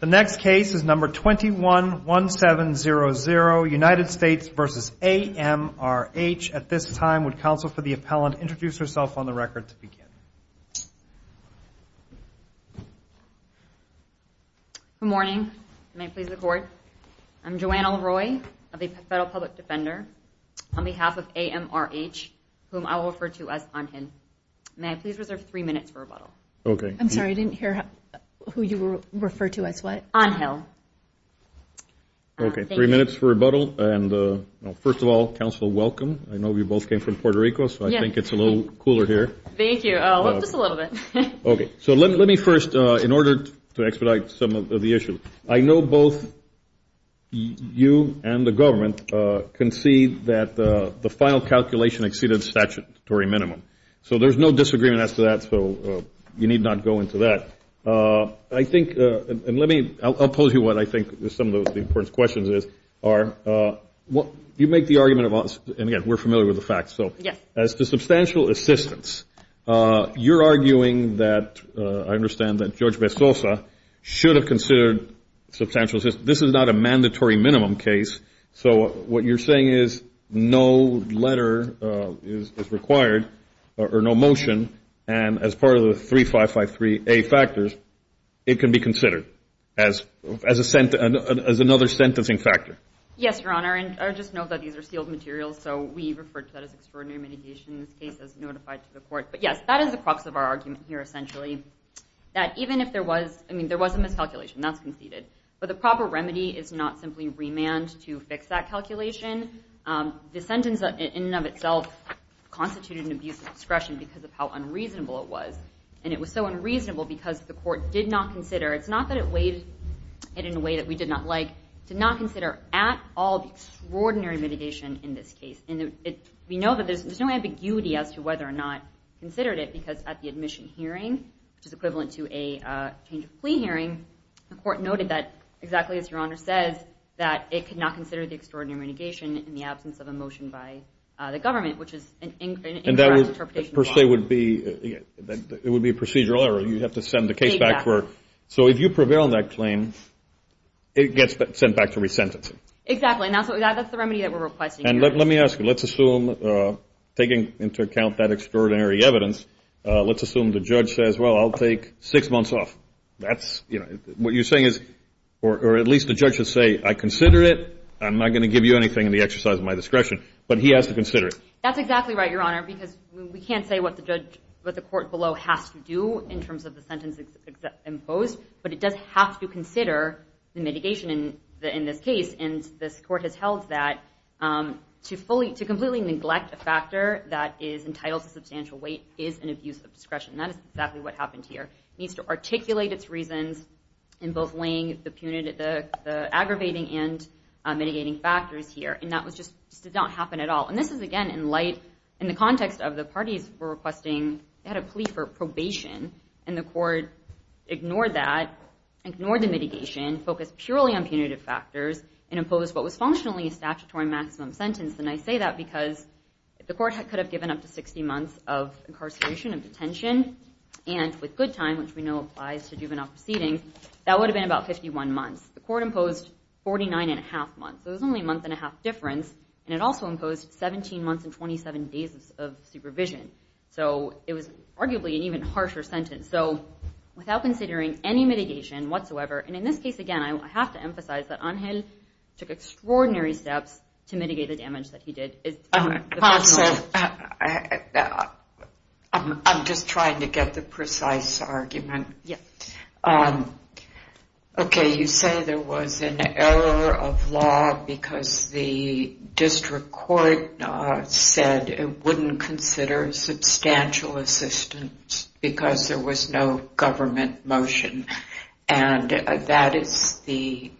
The next case is number 21-1700, United States v. A.M.R.H. At this time, would counsel for the appellant introduce herself on the record to begin? Good morning. May I please record? I'm Joanna Leroy of the Federal Public Defender. On behalf of A.M.R.H., whom I will refer to as I'm him. May I please reserve three minutes for rebuttal? I'm sorry, I didn't hear who you refer to as what? I'm him. Okay, three minutes for rebuttal. First of all, counsel, welcome. I know you both came from Puerto Rico, so I think it's a little cooler here. Thank you, just a little bit. Okay, so let me first, in order to expedite some of the issues, I know both you and the government concede that the final calculation exceeded statutory minimum. So there's no disagreement as to that, so you need not go into that. I think, and let me, I'll pose you what I think some of the important questions are. You make the argument of, and again, we're familiar with the facts. So as to substantial assistance, you're arguing that, I understand, that George Besosa should have considered substantial assistance. This is not a mandatory minimum case. So what you're saying is no letter is required or no motion, and as part of the 3553A factors, it can be considered as another sentencing factor. Yes, Your Honor, and I just note that these are sealed materials, so we refer to that as extraordinary mitigation in this case as notified to the court. But, yes, that is the crux of our argument here, essentially, that even if there was, I mean, there was a miscalculation, that's conceded. But the proper remedy is not simply remand to fix that calculation. The sentence in and of itself constituted an abuse of discretion because of how unreasonable it was. And it was so unreasonable because the court did not consider, it's not that it weighed it in a way that we did not like, did not consider at all the extraordinary mitigation in this case. And we know that there's no ambiguity as to whether or not we considered it because at the admission hearing, which is equivalent to a change of plea hearing, the court noted that, exactly as Your Honor says, that it could not consider the extraordinary mitigation in the absence of a motion by the government, which is an incorrect interpretation of law. And that would, per se, would be a procedural error. You'd have to send the case back for it. Exactly. So if you prevail on that claim, it gets sent back to resentencing. Exactly, and that's the remedy that we're requesting here. And let me ask you, let's assume, taking into account that extraordinary evidence, let's assume the judge says, well, I'll take six months off. What you're saying is, or at least the judge would say, I consider it. I'm not going to give you anything in the exercise of my discretion. But he has to consider it. That's exactly right, Your Honor, because we can't say what the court below has to do in terms of the sentence imposed, but it does have to consider the mitigation in this case. And this court has held that to completely neglect a factor that is entitled to substantial weight is an abuse of discretion. That is exactly what happened here. It needs to articulate its reasons in both weighing the aggravating and mitigating factors here. And that just did not happen at all. And this is, again, in light, in the context of the parties were requesting, they had a plea for probation, and the court ignored that, ignored the mitigation, focused purely on punitive factors, and imposed what was functionally a statutory maximum sentence. And I say that because the court could have given up to 60 months of incarceration and detention, and with good time, which we know applies to juvenile proceedings, that would have been about 51 months. The court imposed 49 and a half months, so it was only a month and a half difference, and it also imposed 17 months and 27 days of supervision. So it was arguably an even harsher sentence. So without considering any mitigation whatsoever, and in this case, again, I have to emphasize that Angel took extraordinary steps to mitigate the damage that he did. I'm just trying to get the precise argument. Okay, you say there was an error of law because the district court said it wouldn't consider substantial assistance because there was no government motion, and that is the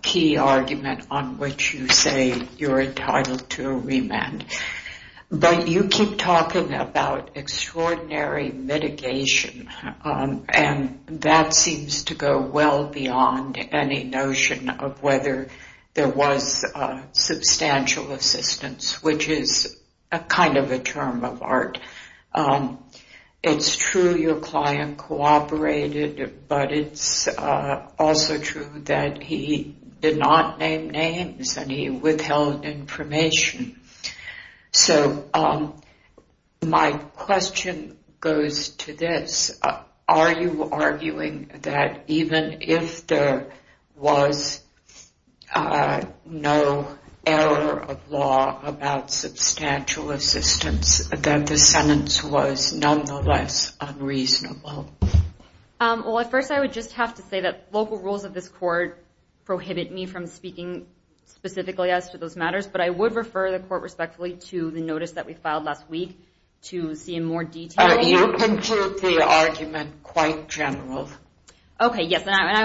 key argument on which you say you're entitled to a remand. But you keep talking about extraordinary mitigation, and that seems to go well beyond any notion of whether there was substantial assistance, which is kind of a term of art. It's true your client cooperated, but it's also true that he did not name names, and he withheld information. So my question goes to this. Are you arguing that even if there was no error of law about substantial assistance, that the sentence was nonetheless unreasonable? Well, at first I would just have to say that local rules of this court prohibit me from speaking specifically as to those matters, but I would refer the court respectfully to the notice that we filed last week to see in more detail. You conclude the argument quite general. Okay, yes, and I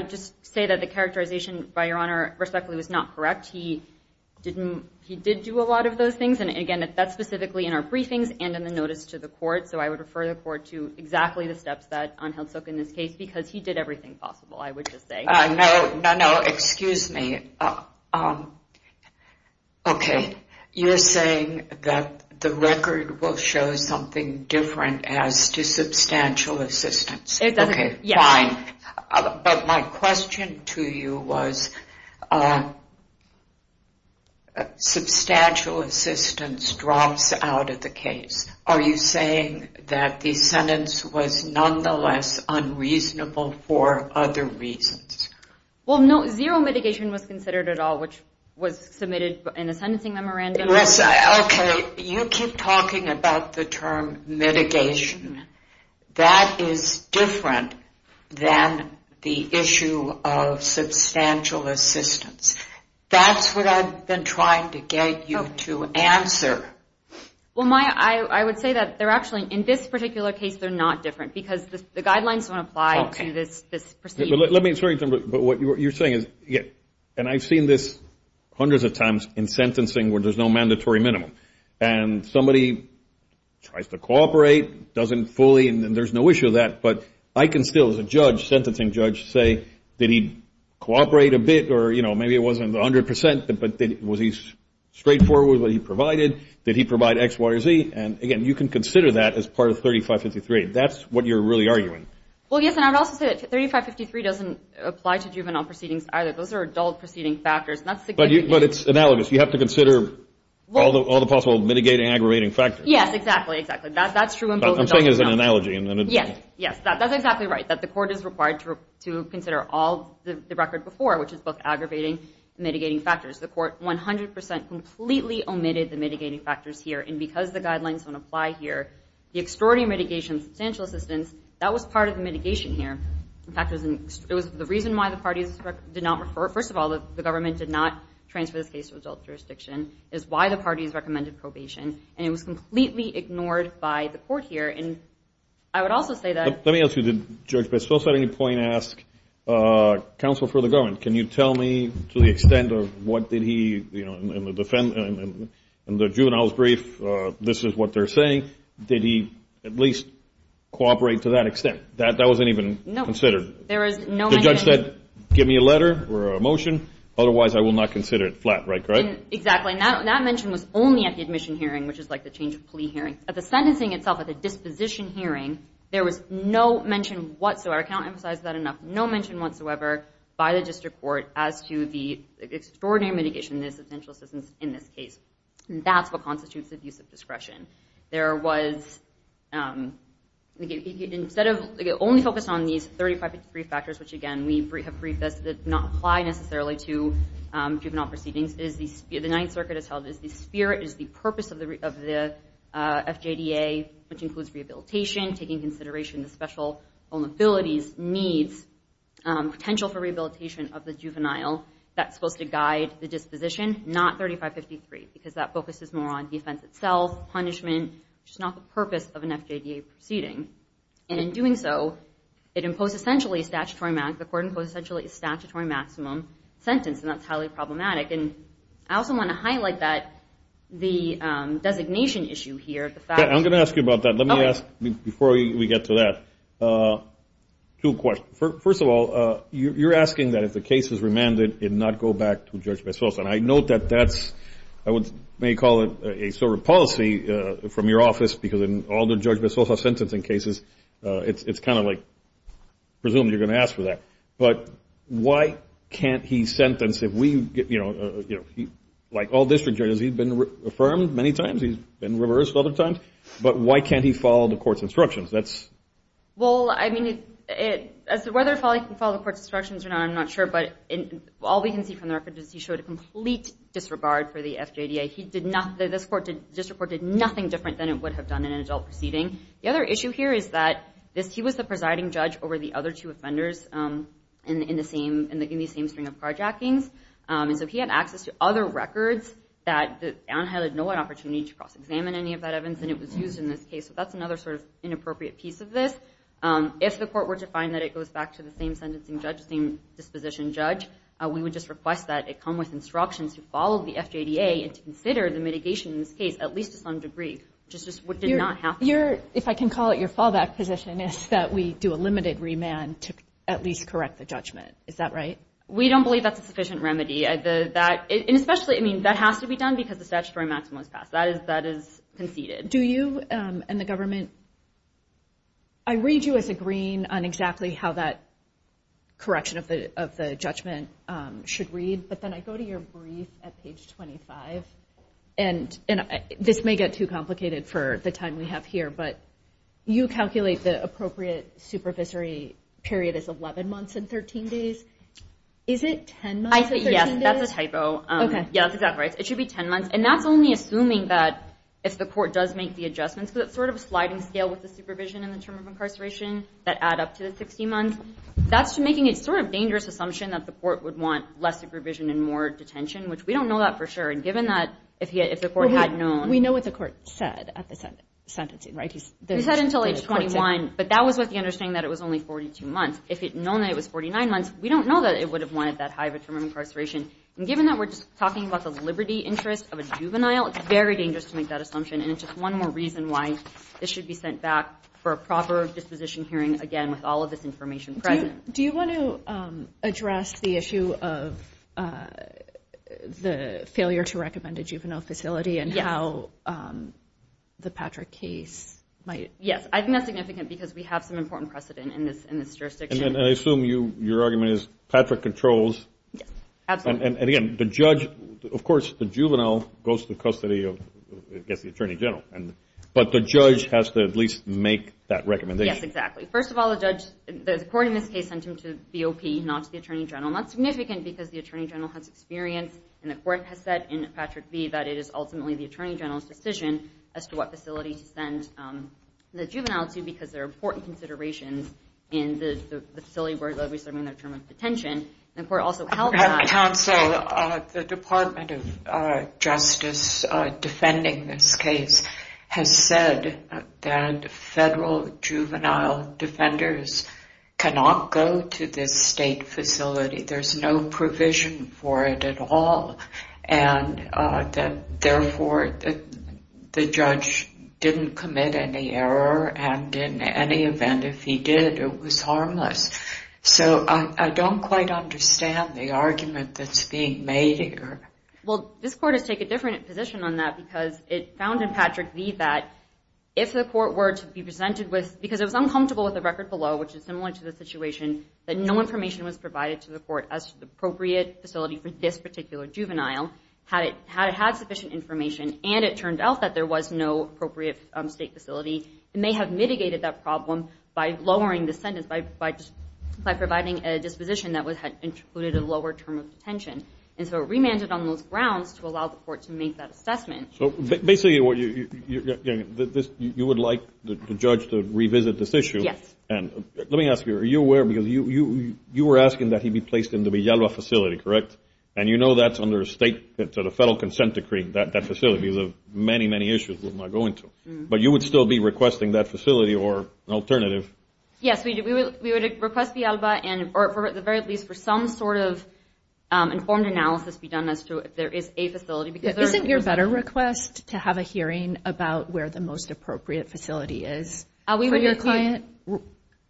would just say that the characterization, by Your Honor, respectfully, was not correct. He did do a lot of those things, and, again, that's specifically in our briefings and in the notice to the court, so I would refer the court to exactly the steps that Angel took in this case because he did everything possible, I would just say. No, no, no, excuse me. Okay, you're saying that the record will show something different as to substantial assistance. It doesn't, yes. But my question to you was substantial assistance drops out of the case. Are you saying that the sentence was nonetheless unreasonable for other reasons? Well, no, zero mitigation was considered at all, which was submitted in a sentencing memorandum. Okay, you keep talking about the term mitigation. That is different than the issue of substantial assistance. That's what I've been trying to get you to answer. Well, Maya, I would say that they're actually, in this particular case, they're not different because the guidelines don't apply to this proceeding. Let me, but what you're saying is, and I've seen this hundreds of times in sentencing where there's no mandatory minimum, and somebody tries to cooperate, doesn't fully, and there's no issue with that, but I can still, as a judge, sentencing judge, say, did he cooperate a bit or, you know, maybe it wasn't 100%, but was he straightforward with what he provided? Did he provide X, Y, or Z? And, again, you can consider that as part of 3553. That's what you're really arguing. Well, yes, and I would also say that 3553 doesn't apply to juvenile proceedings either. Those are adult proceeding factors. But it's analogous. You have to consider all the possible mitigating, aggravating factors. Yes, exactly, exactly. That's true in both adults. I'm saying it as an analogy. Yes, yes, that's exactly right, that the court is required to consider all the record before, which is both aggravating and mitigating factors. The court 100% completely omitted the mitigating factors here, and because the guidelines don't apply here, the extraordinary mitigation of substantial assistance, that was part of the mitigation here. In fact, it was the reason why the parties did not refer. First of all, the government did not transfer this case to adult jurisdiction. It was why the parties recommended probation. And it was completely ignored by the court here. And I would also say that ---- Let me ask you, did Judge Bessels at any point ask counsel for the government, can you tell me to the extent of what did he, you know, in the juvenile's brief, this is what they're saying, did he at least cooperate to that extent? That wasn't even considered. The judge said, give me a letter or a motion, otherwise I will not consider it. Flat right, correct? Exactly, and that mention was only at the admission hearing, which is like the change of plea hearing. At the sentencing itself, at the disposition hearing, there was no mention whatsoever, I can't emphasize that enough, no mention whatsoever by the district court as to the extraordinary mitigation of the substantial assistance in this case. That's what constitutes abusive discretion. There was, instead of, only focused on these 3553 factors, which again we have briefed that does not apply necessarily to juvenile proceedings, the Ninth Circuit has held that the spirit is the purpose of the FJDA, which includes rehabilitation, taking consideration of special vulnerabilities, needs, potential for rehabilitation of the juvenile, that's supposed to guide the disposition, not 3553, because that focuses more on the offense itself, punishment, which is not the purpose of an FJDA proceeding. And in doing so, it imposed essentially a statutory maximum, the court imposed essentially a statutory maximum sentence, and that's highly problematic. And I also want to highlight that the designation issue here, the fact that I'm going to ask you about that. Let me ask, before we get to that, two questions. First of all, you're asking that if the case is remanded, it not go back to Judge Bezos. And I note that that's, I may call it a sort of policy from your office, because in all the Judge Bezos sentencing cases, it's kind of like presumably you're going to ask for that. But why can't he sentence if we, you know, like all district judges, he's been affirmed many times, he's been reversed other times, but why can't he follow the court's instructions? Well, I mean, whether or not he can follow the court's instructions, I'm not sure, but all we can see from the record is he showed a complete disregard for the FJDA. This court did nothing different than it would have done in an adult proceeding. The other issue here is that he was the presiding judge over the other two offenders in the same string of carjackings, and so he had access to other records that Anheil had no opportunity to cross-examine any of that evidence, and it was used in this case. So that's another sort of inappropriate piece of this. If the court were to find that it goes back to the same sentencing judge, the same disposition judge, we would just request that it come with instructions to follow the FJDA and to consider the mitigation in this case at least to some degree, which is just what did not happen. If I can call it your fallback position is that we do a limited remand to at least correct the judgment. Is that right? We don't believe that's a sufficient remedy. And especially, I mean, that has to be done because the statutory maximum is passed. That is conceded. Do you and the government, I read you as agreeing on exactly how that correction of the judgment should read, but then I go to your brief at page 25, and this may get too complicated for the time we have here, but you calculate the appropriate supervisory period as 11 months and 13 days. Is it 10 months and 13 days? Yes, that's a typo. Okay. Yes, exactly. It should be 10 months. And that's only assuming that if the court does make the adjustments, because it's sort of a sliding scale with the supervision and the term of incarceration that add up to the 60 months. That's making a sort of dangerous assumption that the court would want less supervision and more detention, which we don't know that for sure. And given that if the court had known – We know what the court said at the sentencing, right? He said until age 21, but that was with the understanding that it was only 42 months. If it had known that it was 49 months, we don't know that it would have wanted that high of a term of incarceration. And given that we're just talking about the liberty interest of a juvenile, it's very dangerous to make that assumption. And it's just one more reason why this should be sent back for a proper disposition hearing, again, with all of this information present. Do you want to address the issue of the failure to recommend a juvenile facility and how the Patrick case might – Yes, I think that's significant because we have some important precedent in this jurisdiction. And I assume your argument is Patrick controls – Yes, absolutely. And, again, the judge – of course, the juvenile goes to custody of, I guess, the attorney general. But the judge has to at least make that recommendation. Yes, exactly. First of all, the judge – the court in this case sent him to BOP, not to the attorney general. And that's significant because the attorney general has experience, and the court has said in Patrick v. that it is ultimately the attorney general's decision as to what facility to send the juvenile to because there are important considerations in the facility where they'll be serving their term of detention. The court also held that – Counsel, the Department of Justice defending this case has said that federal juvenile defenders cannot go to this state facility. There's no provision for it at all. And, therefore, the judge didn't commit any error. And in any event, if he did, it was harmless. So I don't quite understand the argument that's being made here. Well, this court has taken a different position on that because it found in Patrick v. that if the court were to be presented with – because it was uncomfortable with the record below, which is similar to the situation, that no information was provided to the court as to the appropriate facility for this particular juvenile. Had it had sufficient information, and it turned out that there was no appropriate state facility, it may have mitigated that problem by lowering the sentence, by providing a disposition that included a lower term of detention. And so it remanded on those grounds to allow the court to make that assessment. So basically, you would like the judge to revisit this issue. Yes. Let me ask you, are you aware because you were asking that he be placed in the Villalba facility, correct? And you know that's under a federal consent decree. That facility is of many, many issues we're not going to. But you would still be requesting that facility or an alternative? Yes, we would request Villalba, or at the very least for some sort of informed analysis to be done as to if there is a facility. Isn't your better request to have a hearing about where the most appropriate facility is for your client?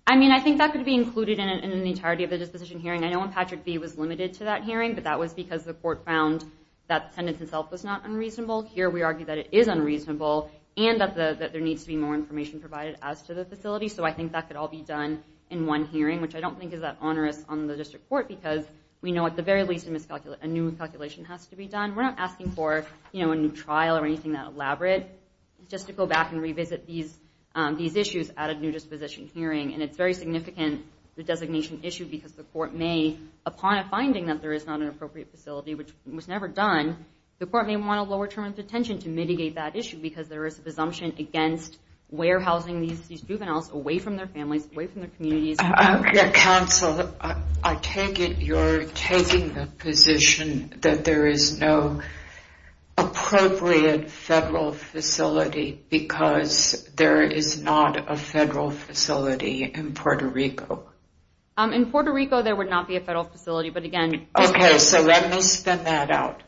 I mean, I think that could be included in the entirety of the disposition hearing. I know when Patrick v. was limited to that hearing, but that was because the court found that the sentence itself was not unreasonable. Here we argue that it is unreasonable and that there needs to be more information provided as to the facility. So I think that could all be done in one hearing, which I don't think is that onerous on the district court because we know at the very least a new calculation has to be done. We're not asking for a new trial or anything that elaborate. It's just to go back and revisit these issues at a new disposition hearing. And it's very significant, the designation issue, because the court may, upon a finding that there is not an appropriate facility, which was never done, the court may want to lower terms of detention to mitigate that issue because there is a presumption against warehousing these juveniles away from their families, away from their communities. Counsel, I take it you're taking the position that there is no appropriate federal facility because there is not a federal facility in Puerto Rico? In Puerto Rico, there would not be a federal facility, but again... Okay, so let me spin that out.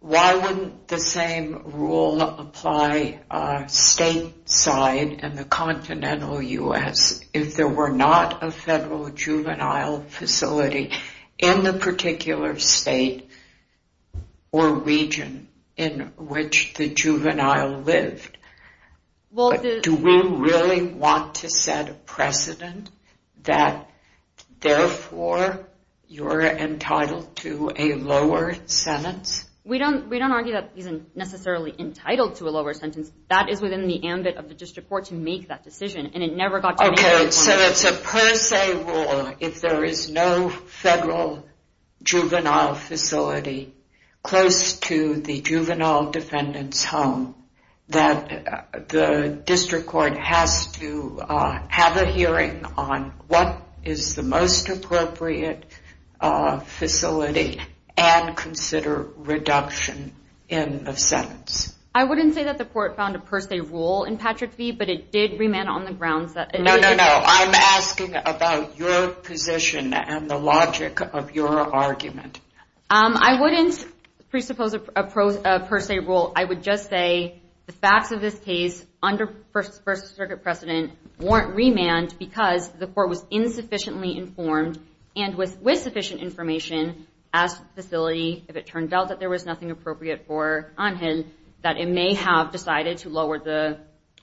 Why wouldn't the same rule apply stateside in the continental U.S. if there were not a federal juvenile facility in the particular state or region in which the juvenile lived? Do we really want to set a precedent that, therefore, you're entitled to a lower sentence? We don't argue that he's necessarily entitled to a lower sentence. That is within the ambit of the district court to make that decision. Okay, so it's a per se rule if there is no federal juvenile facility close to the juvenile defendant's home, that the district court has to have a hearing on what is the most appropriate facility and consider reduction in the sentence. I wouldn't say that the court found a per se rule in Patrick v., but it did remain on the grounds that... No, no, no, I'm asking about your position and the logic of your argument. I wouldn't presuppose a per se rule. I would just say the facts of this case under First Circuit precedent weren't remanded because the court was insufficiently informed and with sufficient information asked the facility, if it turned out that there was nothing appropriate for Angel, that it may have decided to lower the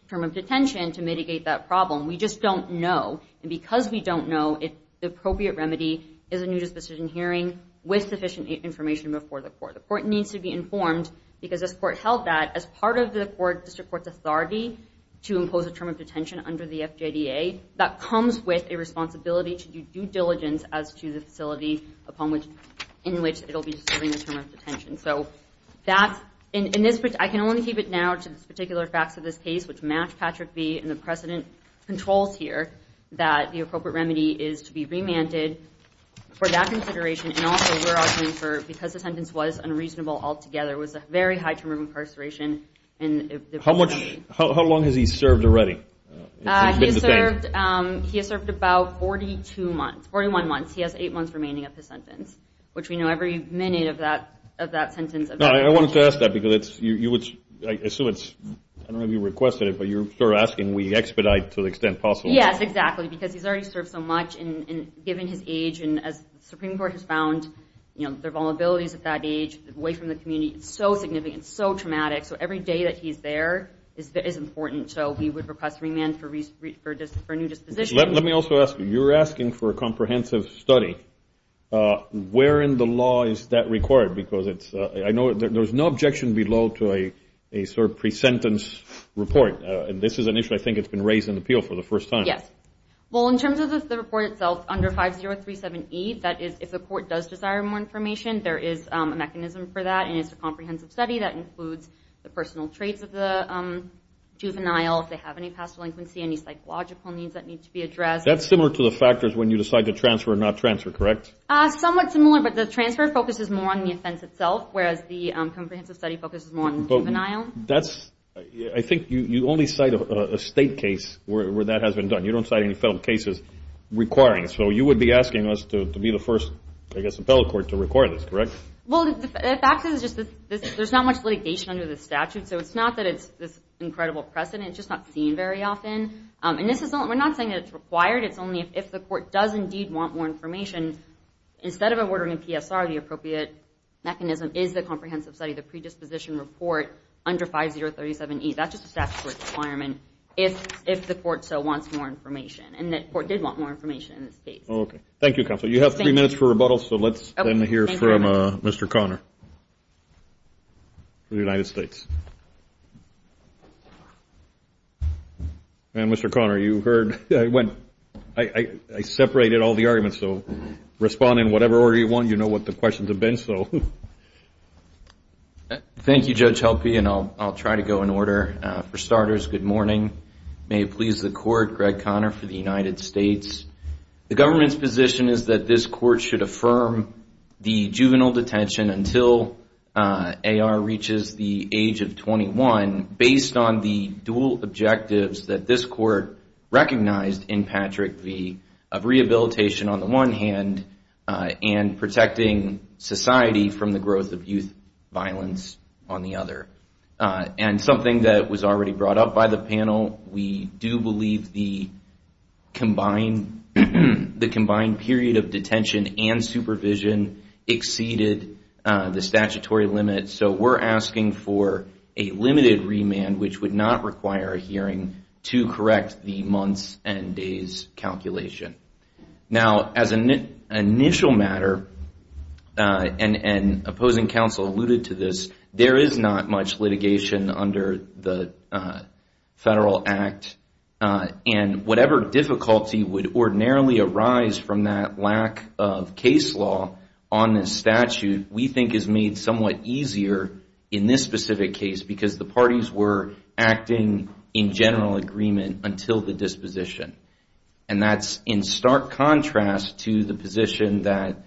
term of detention to mitigate that problem. We just don't know, and because we don't know, if the appropriate remedy is a new disposition hearing with sufficient information before the court. The court needs to be informed because this court held that as part of the district court's authority to impose a term of detention under the FJDA, that comes with a responsibility to do due diligence as to the facility in which it will be serving a term of detention. I can only keep it now to the particular facts of this case, which match Patrick v. and the precedent controls here, that the appropriate remedy is to be remanded for that consideration, and also we're arguing for, because the sentence was unreasonable altogether, it was a very high term of incarceration. How long has he served already? He has served about 41 months. He has eight months remaining of his sentence, which we know every minute of that sentence of detention. I wanted to ask that because I assume it's, I don't know if you requested it, but you're asking we expedite to the extent possible. Yes, exactly, because he's already served so much, and given his age, and as the Supreme Court has found their vulnerabilities at that age, away from the community, it's so significant, so traumatic, so every day that he's there is important, so we would request remand for a new disposition. Let me also ask you, you're asking for a comprehensive study. Where in the law is that required? Because I know there's no objection below to a sort of pre-sentence report, and this is an issue I think that's been raised in the appeal for the first time. Yes. Well, in terms of the report itself, under 5037E, that is if the court does desire more information, there is a mechanism for that, and it's a comprehensive study that includes the personal traits of the juvenile, if they have any past delinquency, any psychological needs that need to be addressed. That's similar to the factors when you decide to transfer or not transfer, correct? Somewhat similar, but the transfer focuses more on the offense itself, whereas the comprehensive study focuses more on the juvenile. I think you only cite a state case where that has been done. You don't cite any federal cases requiring it. So you would be asking us to be the first, I guess, appellate court to require this, correct? Well, the fact is there's not much litigation under the statute, so it's not that it's this incredible precedent. It's just not seen very often. And we're not saying that it's required. It's only if the court does indeed want more information. Instead of ordering a PSR, the appropriate mechanism is the comprehensive study, the predisposition report under 5037E. That's just a statute requirement if the court so wants more information, and the court did want more information in this case. Okay. Thank you, Counsel. You have three minutes for rebuttal, so let's then hear from Mr. Conner from the United States. And, Mr. Conner, you heard when I separated all the arguments, so respond in whatever order you want. You know what the questions have been, so. Thank you, Judge Helpe, and I'll try to go in order. For starters, good morning. May it please the Court, Greg Conner for the United States. The government's position is that this court should affirm the juvenile detention until AR reaches the age of 21 based on the dual objectives that this court recognized in Patrick v. of rehabilitation on the one hand and protecting society from the growth of youth violence on the other. And something that was already brought up by the panel, we do believe the combined period of detention and supervision exceeded the statutory limit, so we're asking for a limited remand, which would not require a hearing, to correct the months and days calculation. Now, as an initial matter, and opposing counsel alluded to this, there is not much litigation under the federal act, and whatever difficulty would ordinarily arise from that lack of case law on this statute, we think is made somewhat easier in this specific case, because the parties were acting in general agreement until the disposition. And that's in stark contrast to the position that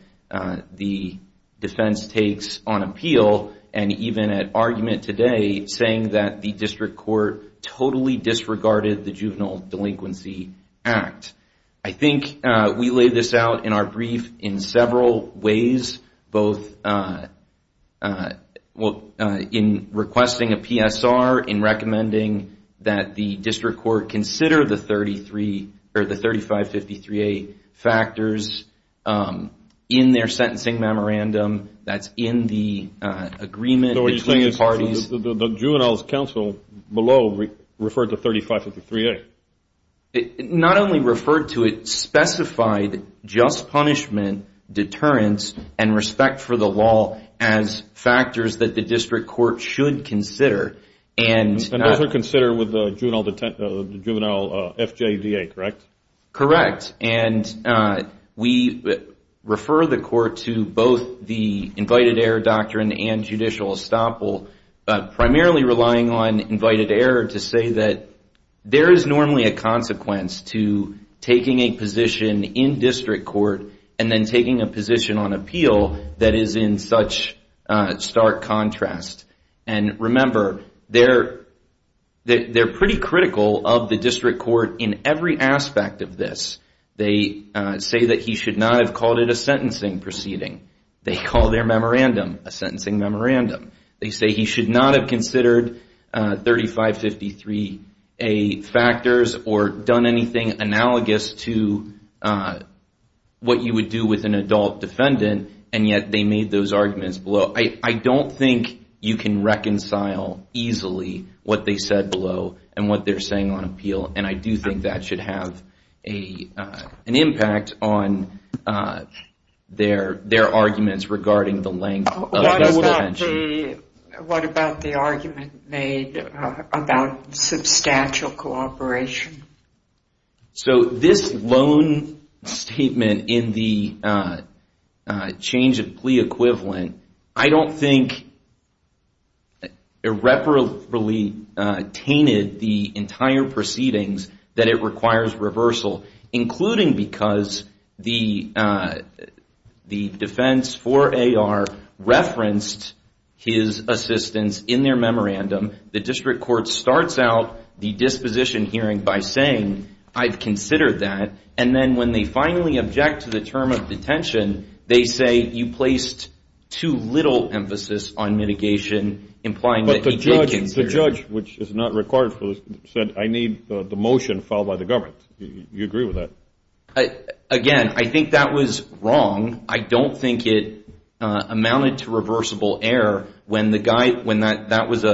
the defense takes on appeal, and even at argument today, saying that the district court totally disregarded the juvenile delinquency act. I think we laid this out in our brief in several ways, both in requesting a PSR, in recommending that the district court consider the 3553A factors in their sentencing memorandum, that's in the agreement between the parties. So what you're saying is the juvenile's counsel below referred to 3553A? Not only referred to it, specified just punishment, deterrence, and respect for the law as factors that the district court should consider. And those are considered with the juvenile FJDA, correct? Correct. And we refer the court to both the invited error doctrine and judicial estoppel, but primarily relying on invited error to say that there is normally a consequence to taking a position in district court, and then taking a position on appeal that is in such stark contrast. And remember, they're pretty critical of the district court in every aspect of this. They say that he should not have called it a sentencing proceeding. They call their memorandum a sentencing memorandum. They say he should not have considered 3553A factors or done anything analogous to what you would do with an adult defendant, and yet they made those arguments below. I don't think you can reconcile easily what they said below and what they're saying on appeal, and I do think that should have an impact on their arguments regarding the length of the detention. What about the argument made about substantial cooperation? So this loan statement in the change of plea equivalent, I don't think irreparably tainted the entire proceedings that it requires reversal, including because the defense for AR referenced his assistance in their memorandum. The district court starts out the disposition hearing by saying, I've considered that, and then when they finally object to the term of detention, they say you placed too little emphasis on mitigation, implying that he did consider it. But the judge, which is not required, said, I need the motion filed by the government. Do you agree with that? Again, I think that was wrong. I don't think it amounted to reversible error when that was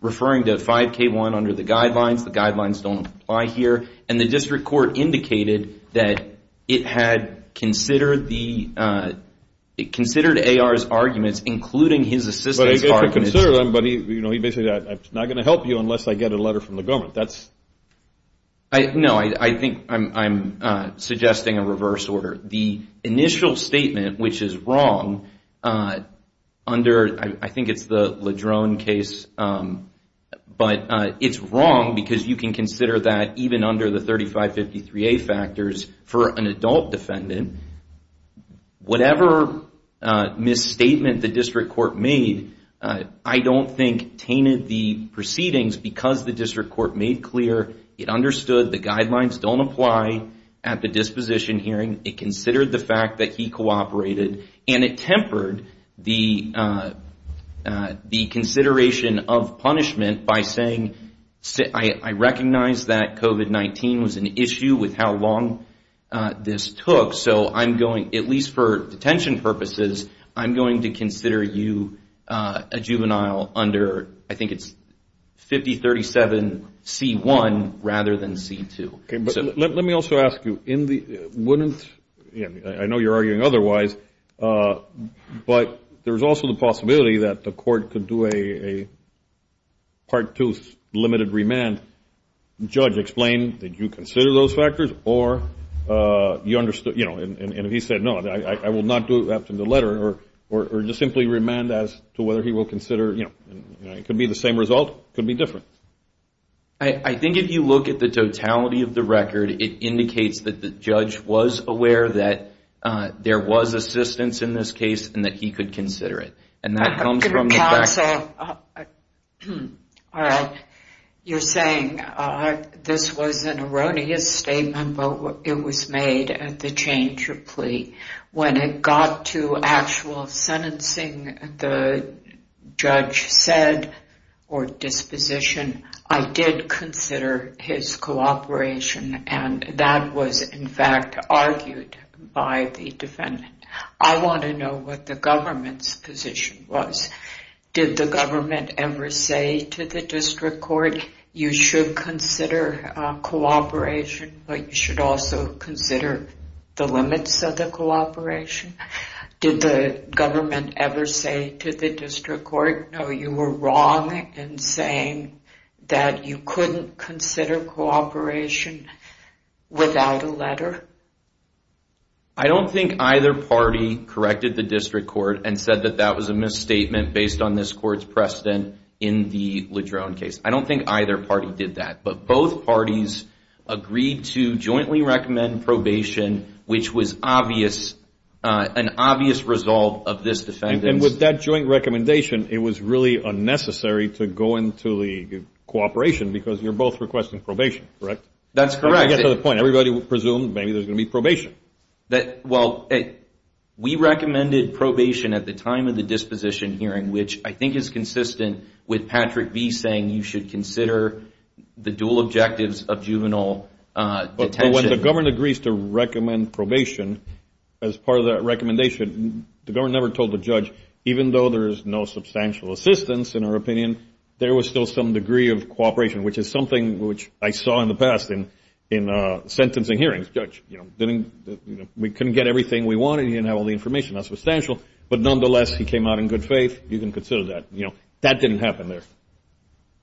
referring to 5K1 under the guidelines. The guidelines don't apply here. And the district court indicated that it had considered AR's arguments, including his assistance argument. But he basically said, I'm not going to help you unless I get a letter from the government. No, I think I'm suggesting a reverse order. The initial statement, which is wrong under, I think it's the LeDrone case, but it's wrong because you can consider that even under the 3553A factors for an adult defendant. Whatever misstatement the district court made, I don't think tainted the proceedings because the district court made clear it understood the guidelines don't apply at the disposition hearing. It considered the fact that he cooperated and it tempered the consideration of punishment by saying, I recognize that COVID-19 was an issue with how long this took, so I'm going, at least for detention purposes, I'm going to consider you a juvenile under, I think it's 5037C1 rather than C2. Let me also ask you, wouldn't, I know you're arguing otherwise, but there's also the possibility that the court could do a part two limited remand. Judge, explain, did you consider those factors or you understood, you know, and he said no, I will not do it after the letter or just simply remand as to whether he will consider, you know, it could be the same result, it could be different. I think if you look at the totality of the record, it indicates that the judge was aware that there was assistance in this case and that he could consider it. And that comes from the facts. Counsel, you're saying this was an erroneous statement, but it was made at the change of plea. When it got to actual sentencing, the judge said or disposition, I did consider his cooperation and that was in fact argued by the defendant. I want to know what the government's position was. Did the government ever say to the district court, you should consider cooperation, but you should also consider the limits of the cooperation? Did the government ever say to the district court, no, you were wrong in saying that you couldn't consider cooperation without a letter? I don't think either party corrected the district court and said that that was a misstatement based on this court's precedent in the LeDrone case. I don't think either party did that, but both parties agreed to jointly recommend probation, which was an obvious resolve of this defendant. And with that joint recommendation, it was really unnecessary to go into the cooperation because you're both requesting probation, correct? That's correct. I get to the point. Everybody would presume maybe there's going to be probation. Well, we recommended probation at the time of the disposition hearing, which I think is consistent with Patrick B. saying you should consider the dual objectives of juvenile detention. But when the government agrees to recommend probation as part of that recommendation, the government never told the judge, even though there is no substantial assistance in our opinion, there was still some degree of cooperation, which is something which I saw in the past in sentencing hearings. Judge, we couldn't get everything we wanted. You didn't have all the information. But nonetheless, he came out in good faith. You can consider that. That didn't happen there.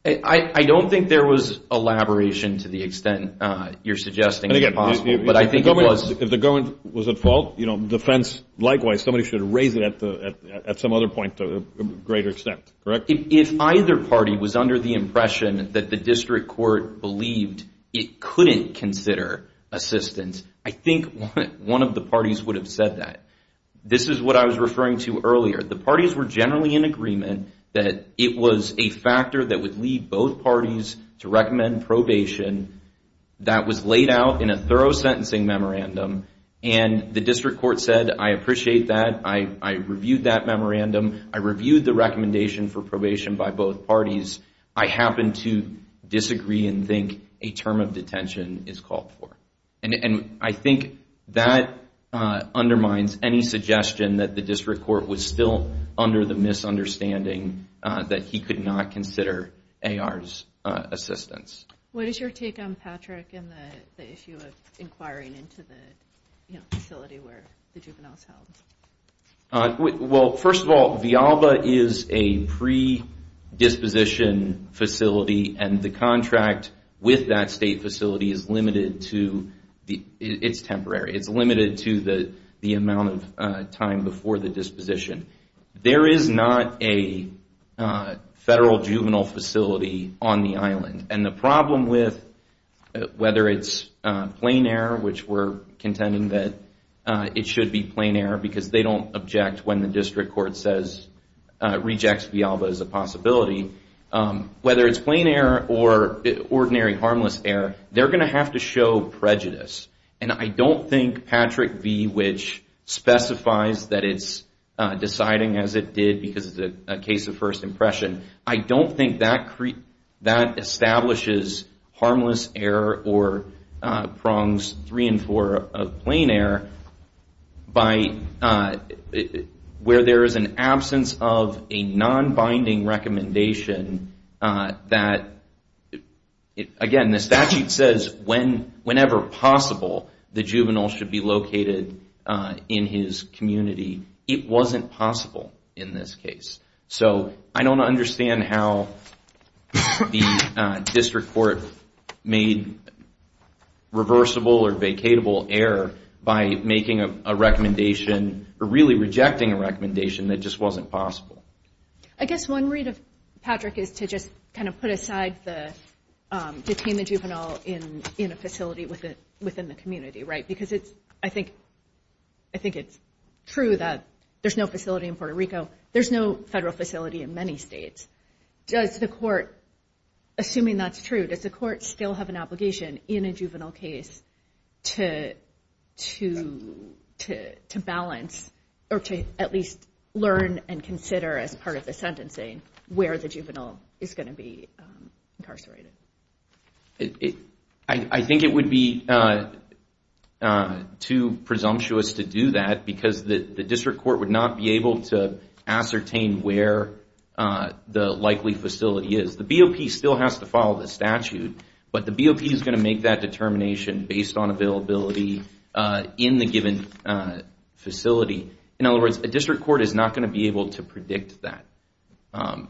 I don't think there was elaboration to the extent you're suggesting is possible. But I think it was. If the government was at fault, the defense, likewise, somebody should raise it at some other point to a greater extent, correct? If either party was under the impression that the district court believed it couldn't consider assistance, I think one of the parties would have said that. This is what I was referring to earlier. The parties were generally in agreement that it was a factor that would lead both parties to recommend probation that was laid out in a thorough sentencing memorandum. And the district court said, I appreciate that. I reviewed that memorandum. I reviewed the recommendation for probation by both parties. I happen to disagree and think a term of detention is called for. And I think that undermines any suggestion that the district court was still under the misunderstanding that he could not consider AR's assistance. What is your take on Patrick and the issue of inquiring into the facility where the juvenile is held? Well, first of all, Vialba is a predisposition facility. And the contract with that state facility is limited to the amount of time before the disposition. There is not a federal juvenile facility on the island. And the problem with whether it's plain error, which we're contending that it should be plain error because they don't object when the district court rejects Vialba as a possibility. Whether it's plain error or ordinary harmless error, they're going to have to show prejudice. And I don't think Patrick V., which specifies that it's deciding as it did because it's a case of first impression, I don't think that establishes harmless error or prongs three and four of plain error where there is an absence of a non-binding recommendation that, again, the statute says whenever possible, the juvenile should be located in his community. It wasn't possible in this case. So I don't understand how the district court made reversible or vacatable error by making a recommendation or really rejecting a recommendation that just wasn't possible. I guess one read of Patrick is to just kind of put aside the detainment juvenile in a facility within the community, right? Because I think it's true that there's no facility in Puerto Rico. There's no federal facility in many states. Does the court, assuming that's true, does the court still have an obligation in a juvenile case to balance or to at least learn and consider as part of the sentencing where the juvenile is going to be incarcerated? I think it would be too presumptuous to do that because the district court would not be able to ascertain where the likely facility is. The BOP still has to follow the statute, but the BOP is going to make that determination based on availability in the given facility. In other words, a district court is not going to be able to predict that.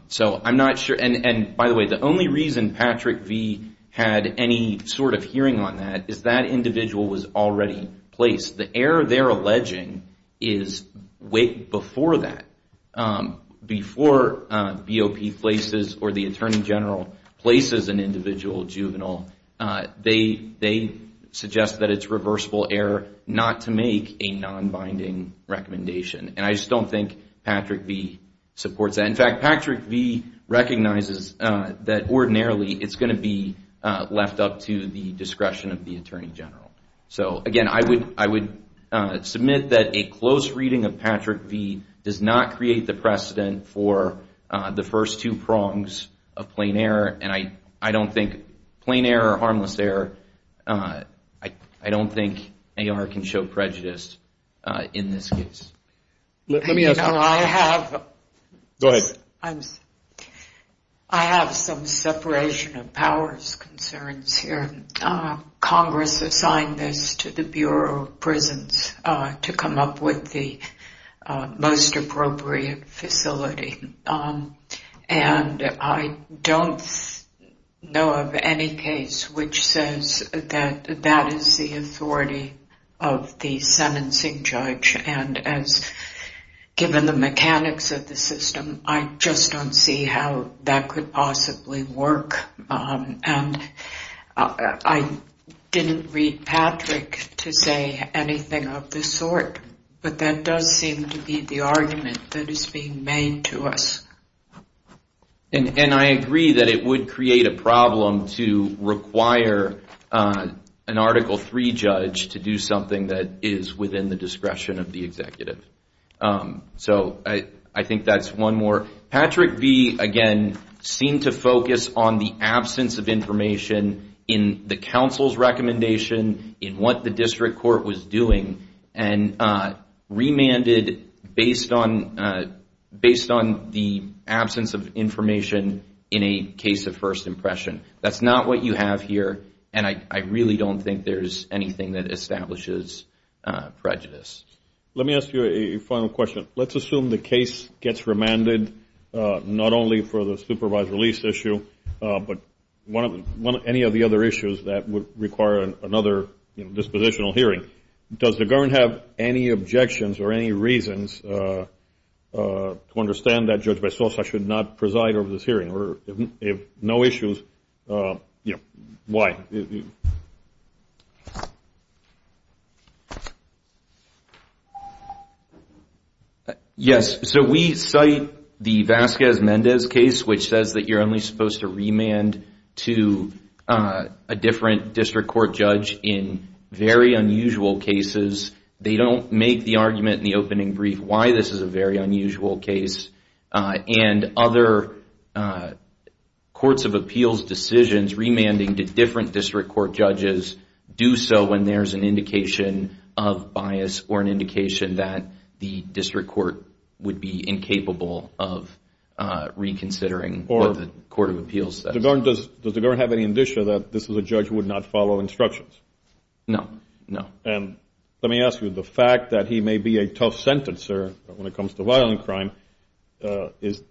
So I'm not sure. And by the way, the only reason Patrick V. had any sort of hearing on that is that individual was already placed. The error they're alleging is way before that. Before BOP places or the attorney general places an individual juvenile, they suggest that it's reversible error not to make a non-binding recommendation. And I just don't think Patrick V. supports that. In fact, Patrick V. recognizes that ordinarily it's going to be left up to the discretion of the attorney general. So again, I would submit that a close reading of Patrick V. does not create the precedent for the first two prongs of plain error. And I don't think plain error or harmless error, I don't think AR can show prejudice in this case. Let me ask you. Go ahead. I have some separation of powers concerns here. Congress assigned this to the Bureau of Prisons to come up with the most appropriate facility. And I don't know of any case which says that that is the authority of the sentencing judge. And as given the mechanics of the system, I just don't see how that could possibly work. And I didn't read Patrick to say anything of this sort. But that does seem to be the argument that is being made to us. And I agree that it would create a problem to require an Article III judge to do something that is within the discretion of the executive. So I think that's one more. Patrick V., again, seemed to focus on the absence of information in the council's recommendation, in what the district court was doing, and remanded based on the absence of information in a case of first impression. That's not what you have here, and I really don't think there's anything that establishes prejudice. Let me ask you a final question. Let's assume the case gets remanded, not only for the supervised release issue, but any of the other issues that would require another dispositional hearing. Does the government have any objections or any reasons to understand that Judge Bessosa should not preside over this hearing? If no issues, why? Yes. So we cite the Vasquez-Mendez case, which says that you're only supposed to remand to a different district court judge in very unusual cases. They don't make the argument in the opening brief why this is a very unusual case. And other courts of appeals decisions, remanding to different district court judges, do so when there's an indication of bias or an indication that the district court would be incapable of reconsidering what the court of appeals says. Does the government have any indicia that this is a judge who would not follow instructions? No, no. And let me ask you, the fact that he may be a tough sentencer when it comes to violent crime, is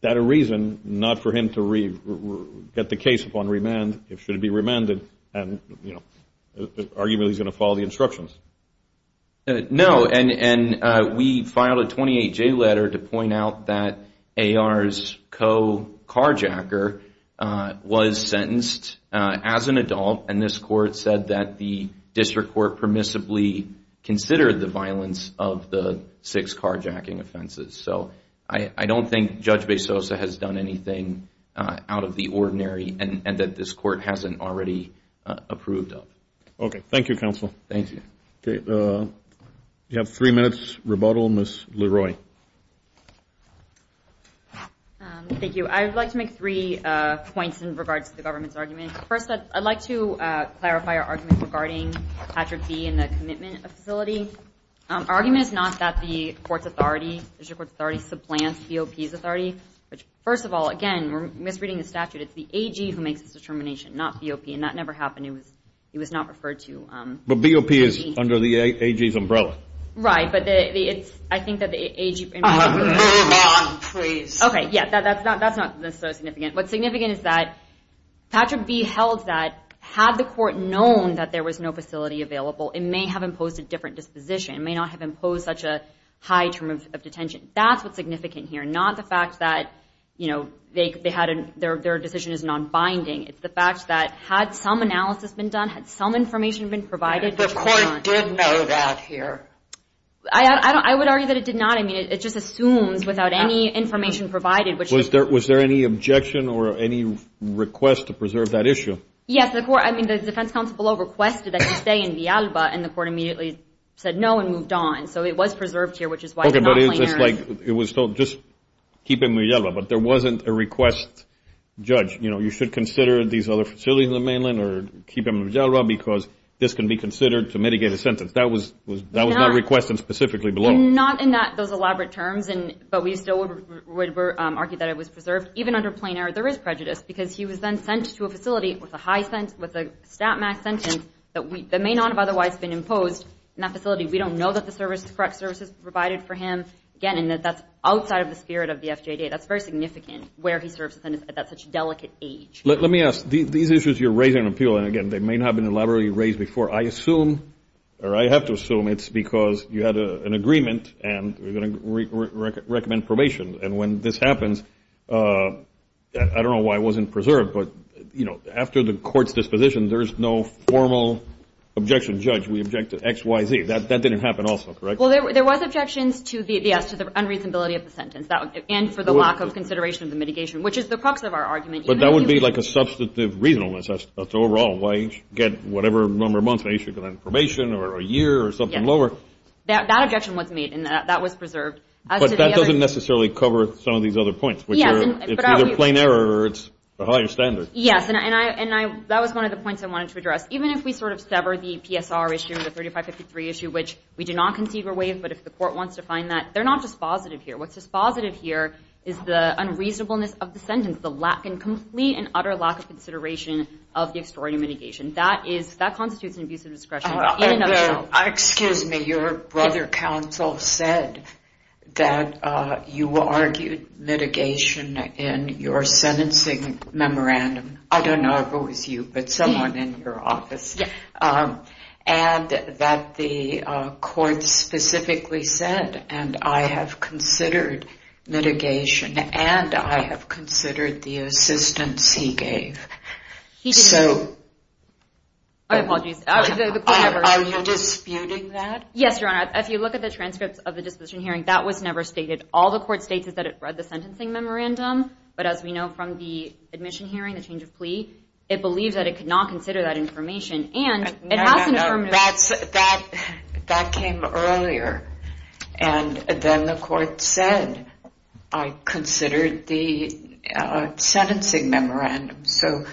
that a reason not for him to get the case upon remand? Should it be remanded? Arguably, he's going to follow the instructions. No, and we filed a 28-J letter to point out that A.R.'s co-carjacker was sentenced as an adult, and this court said that the district court permissibly considered the violence of the six carjacking offenses. So I don't think Judge Bezosa has done anything out of the ordinary and that this court hasn't already approved of. Okay, thank you, counsel. Thank you. Okay, we have three minutes rebuttal. Ms. Leroy. Thank you. I'd like to make three points in regards to the government's argument. First, I'd like to clarify our argument regarding Patrick B. and the commitment facility. Our argument is not that the court's authority, district court's authority, supplants B.O.P.'s authority. First of all, again, we're misreading the statute. It's the A.G. who makes the determination, not B.O.P., and that never happened. He was not referred to. But B.O.P. is under the A.G.'s umbrella. Right, but I think that the A.G. Move on, please. Okay, yeah, that's not necessarily significant. What's significant is that Patrick B. held that had the court known that there was no facility available, it may have imposed a different disposition. It may not have imposed such a high term of detention. That's what's significant here, not the fact that, you know, their decision is nonbinding. It's the fact that had some analysis been done, had some information been provided. The court did know that here. I would argue that it did not. I mean, it just assumes without any information provided. Was there any objection or any request to preserve that issue? Yes. I mean, the defense counsel below requested that he stay in Villalba, and the court immediately said no and moved on. So it was preserved here, which is why they're not playing there. Okay, but it's just like it was told, just keep him in Villalba. But there wasn't a request, judge, you know, you should consider these other facilities in the mainland or keep him in Villalba because this can be considered to mitigate a sentence. That was not requested specifically below. Not in those elaborate terms, but we still would argue that it was preserved. Even under plain error, there is prejudice because he was then sent to a facility with a stat max sentence that may not have otherwise been imposed in that facility. We don't know that the correct services were provided for him. Again, that's outside of the spirit of the FJD. That's very significant where he serves at such a delicate age. Let me ask. These issues you're raising appeal, and, again, they may not have been elaborately raised before. I assume, or I have to assume it's because you had an agreement and we're going to recommend probation. And when this happens, I don't know why it wasn't preserved, but, you know, after the court's disposition, there's no formal objection. Judge, we object to X, Y, Z. That didn't happen also, correct? Well, there was objections to the unreasonability of the sentence and for the lack of consideration of the mitigation, which is the crux of our argument. But that would be like a substantive reasonableness. That's overall. Why get whatever number of months they should get on probation or a year or something lower. That objection was made, and that was preserved. But that doesn't necessarily cover some of these other points. It's either plain error or it's a higher standard. Yes, and that was one of the points I wanted to address. Even if we sort of sever the PSR issue, the 3553 issue, which we do not concede were waived, but if the court wants to find that, they're not dispositive here. What's dispositive here is the unreasonableness of the sentence, and complete and utter lack of consideration of the extraordinary mitigation. That constitutes an abuse of discretion in and of itself. Excuse me. Your brother counsel said that you argued mitigation in your sentencing memorandum. I don't know if it was you, but someone in your office. Yes. And that the court specifically said, and I have considered mitigation, and I have considered the assistance he gave. I apologize. Are you disputing that? Yes, Your Honor. If you look at the transcripts of the disputation hearing, that was never stated. All the court states is that it read the sentencing memorandum, but as we know from the admission hearing, the change of plea, it believes that it could not consider that information. No, that came earlier, and then the court said, I considered the sentencing memorandum. So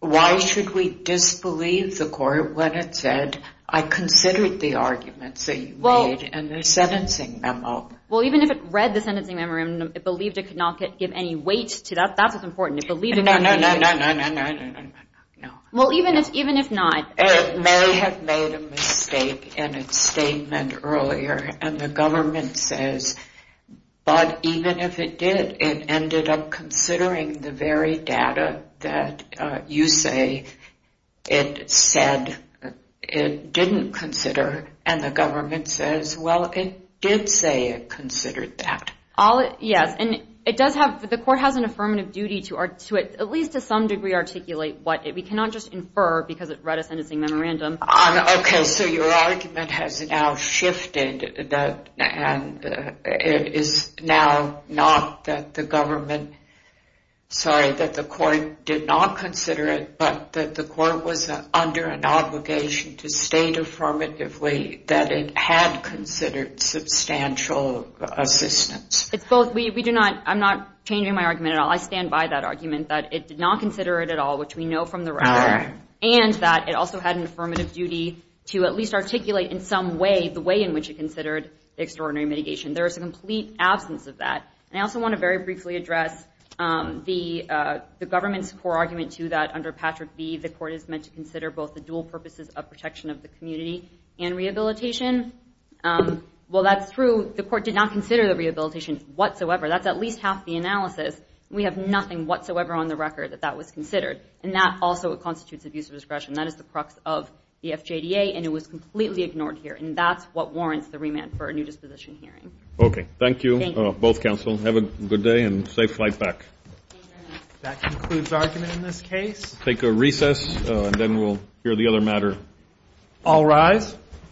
why should we disbelieve the court when it said, I considered the arguments that you made in the sentencing memo? Well, even if it read the sentencing memorandum, it believed it could not give any weight to that. That's what's important. No, no, no, no, no. Well, even if not. It may have made a mistake in its statement earlier, and the government says, but even if it did, it ended up considering the very data that you say it said it didn't consider, and the government says, well, it did say it considered that. Yes, and the court has an affirmative duty to, at least to some degree, re-articulate what it did. We cannot just infer because it read a sentencing memorandum. Okay, so your argument has now shifted, and it is now not that the government, sorry, that the court did not consider it, but that the court was under an obligation to state affirmatively that it had considered substantial assistance. It's both. I'm not changing my argument at all. I stand by that argument that it did not consider it at all, which we know from the record, and that it also had an affirmative duty to at least articulate in some way the way in which it considered the extraordinary mitigation. There is a complete absence of that. I also want to very briefly address the government's core argument, too, that under Patrick B., the court is meant to consider both the dual purposes of protection of the community and rehabilitation. Well, that's true. The court did not consider the rehabilitation whatsoever. That's at least half the analysis. We have nothing whatsoever on the record that that was considered, and that also constitutes abuse of discretion. That is the crux of the FJDA, and it was completely ignored here, and that's what warrants the remand for a new disposition hearing. Okay. Thank you, both counsel. Have a good day and safe flight back. That concludes argument in this case. We'll take a recess, and then we'll hear the other matter. All rise.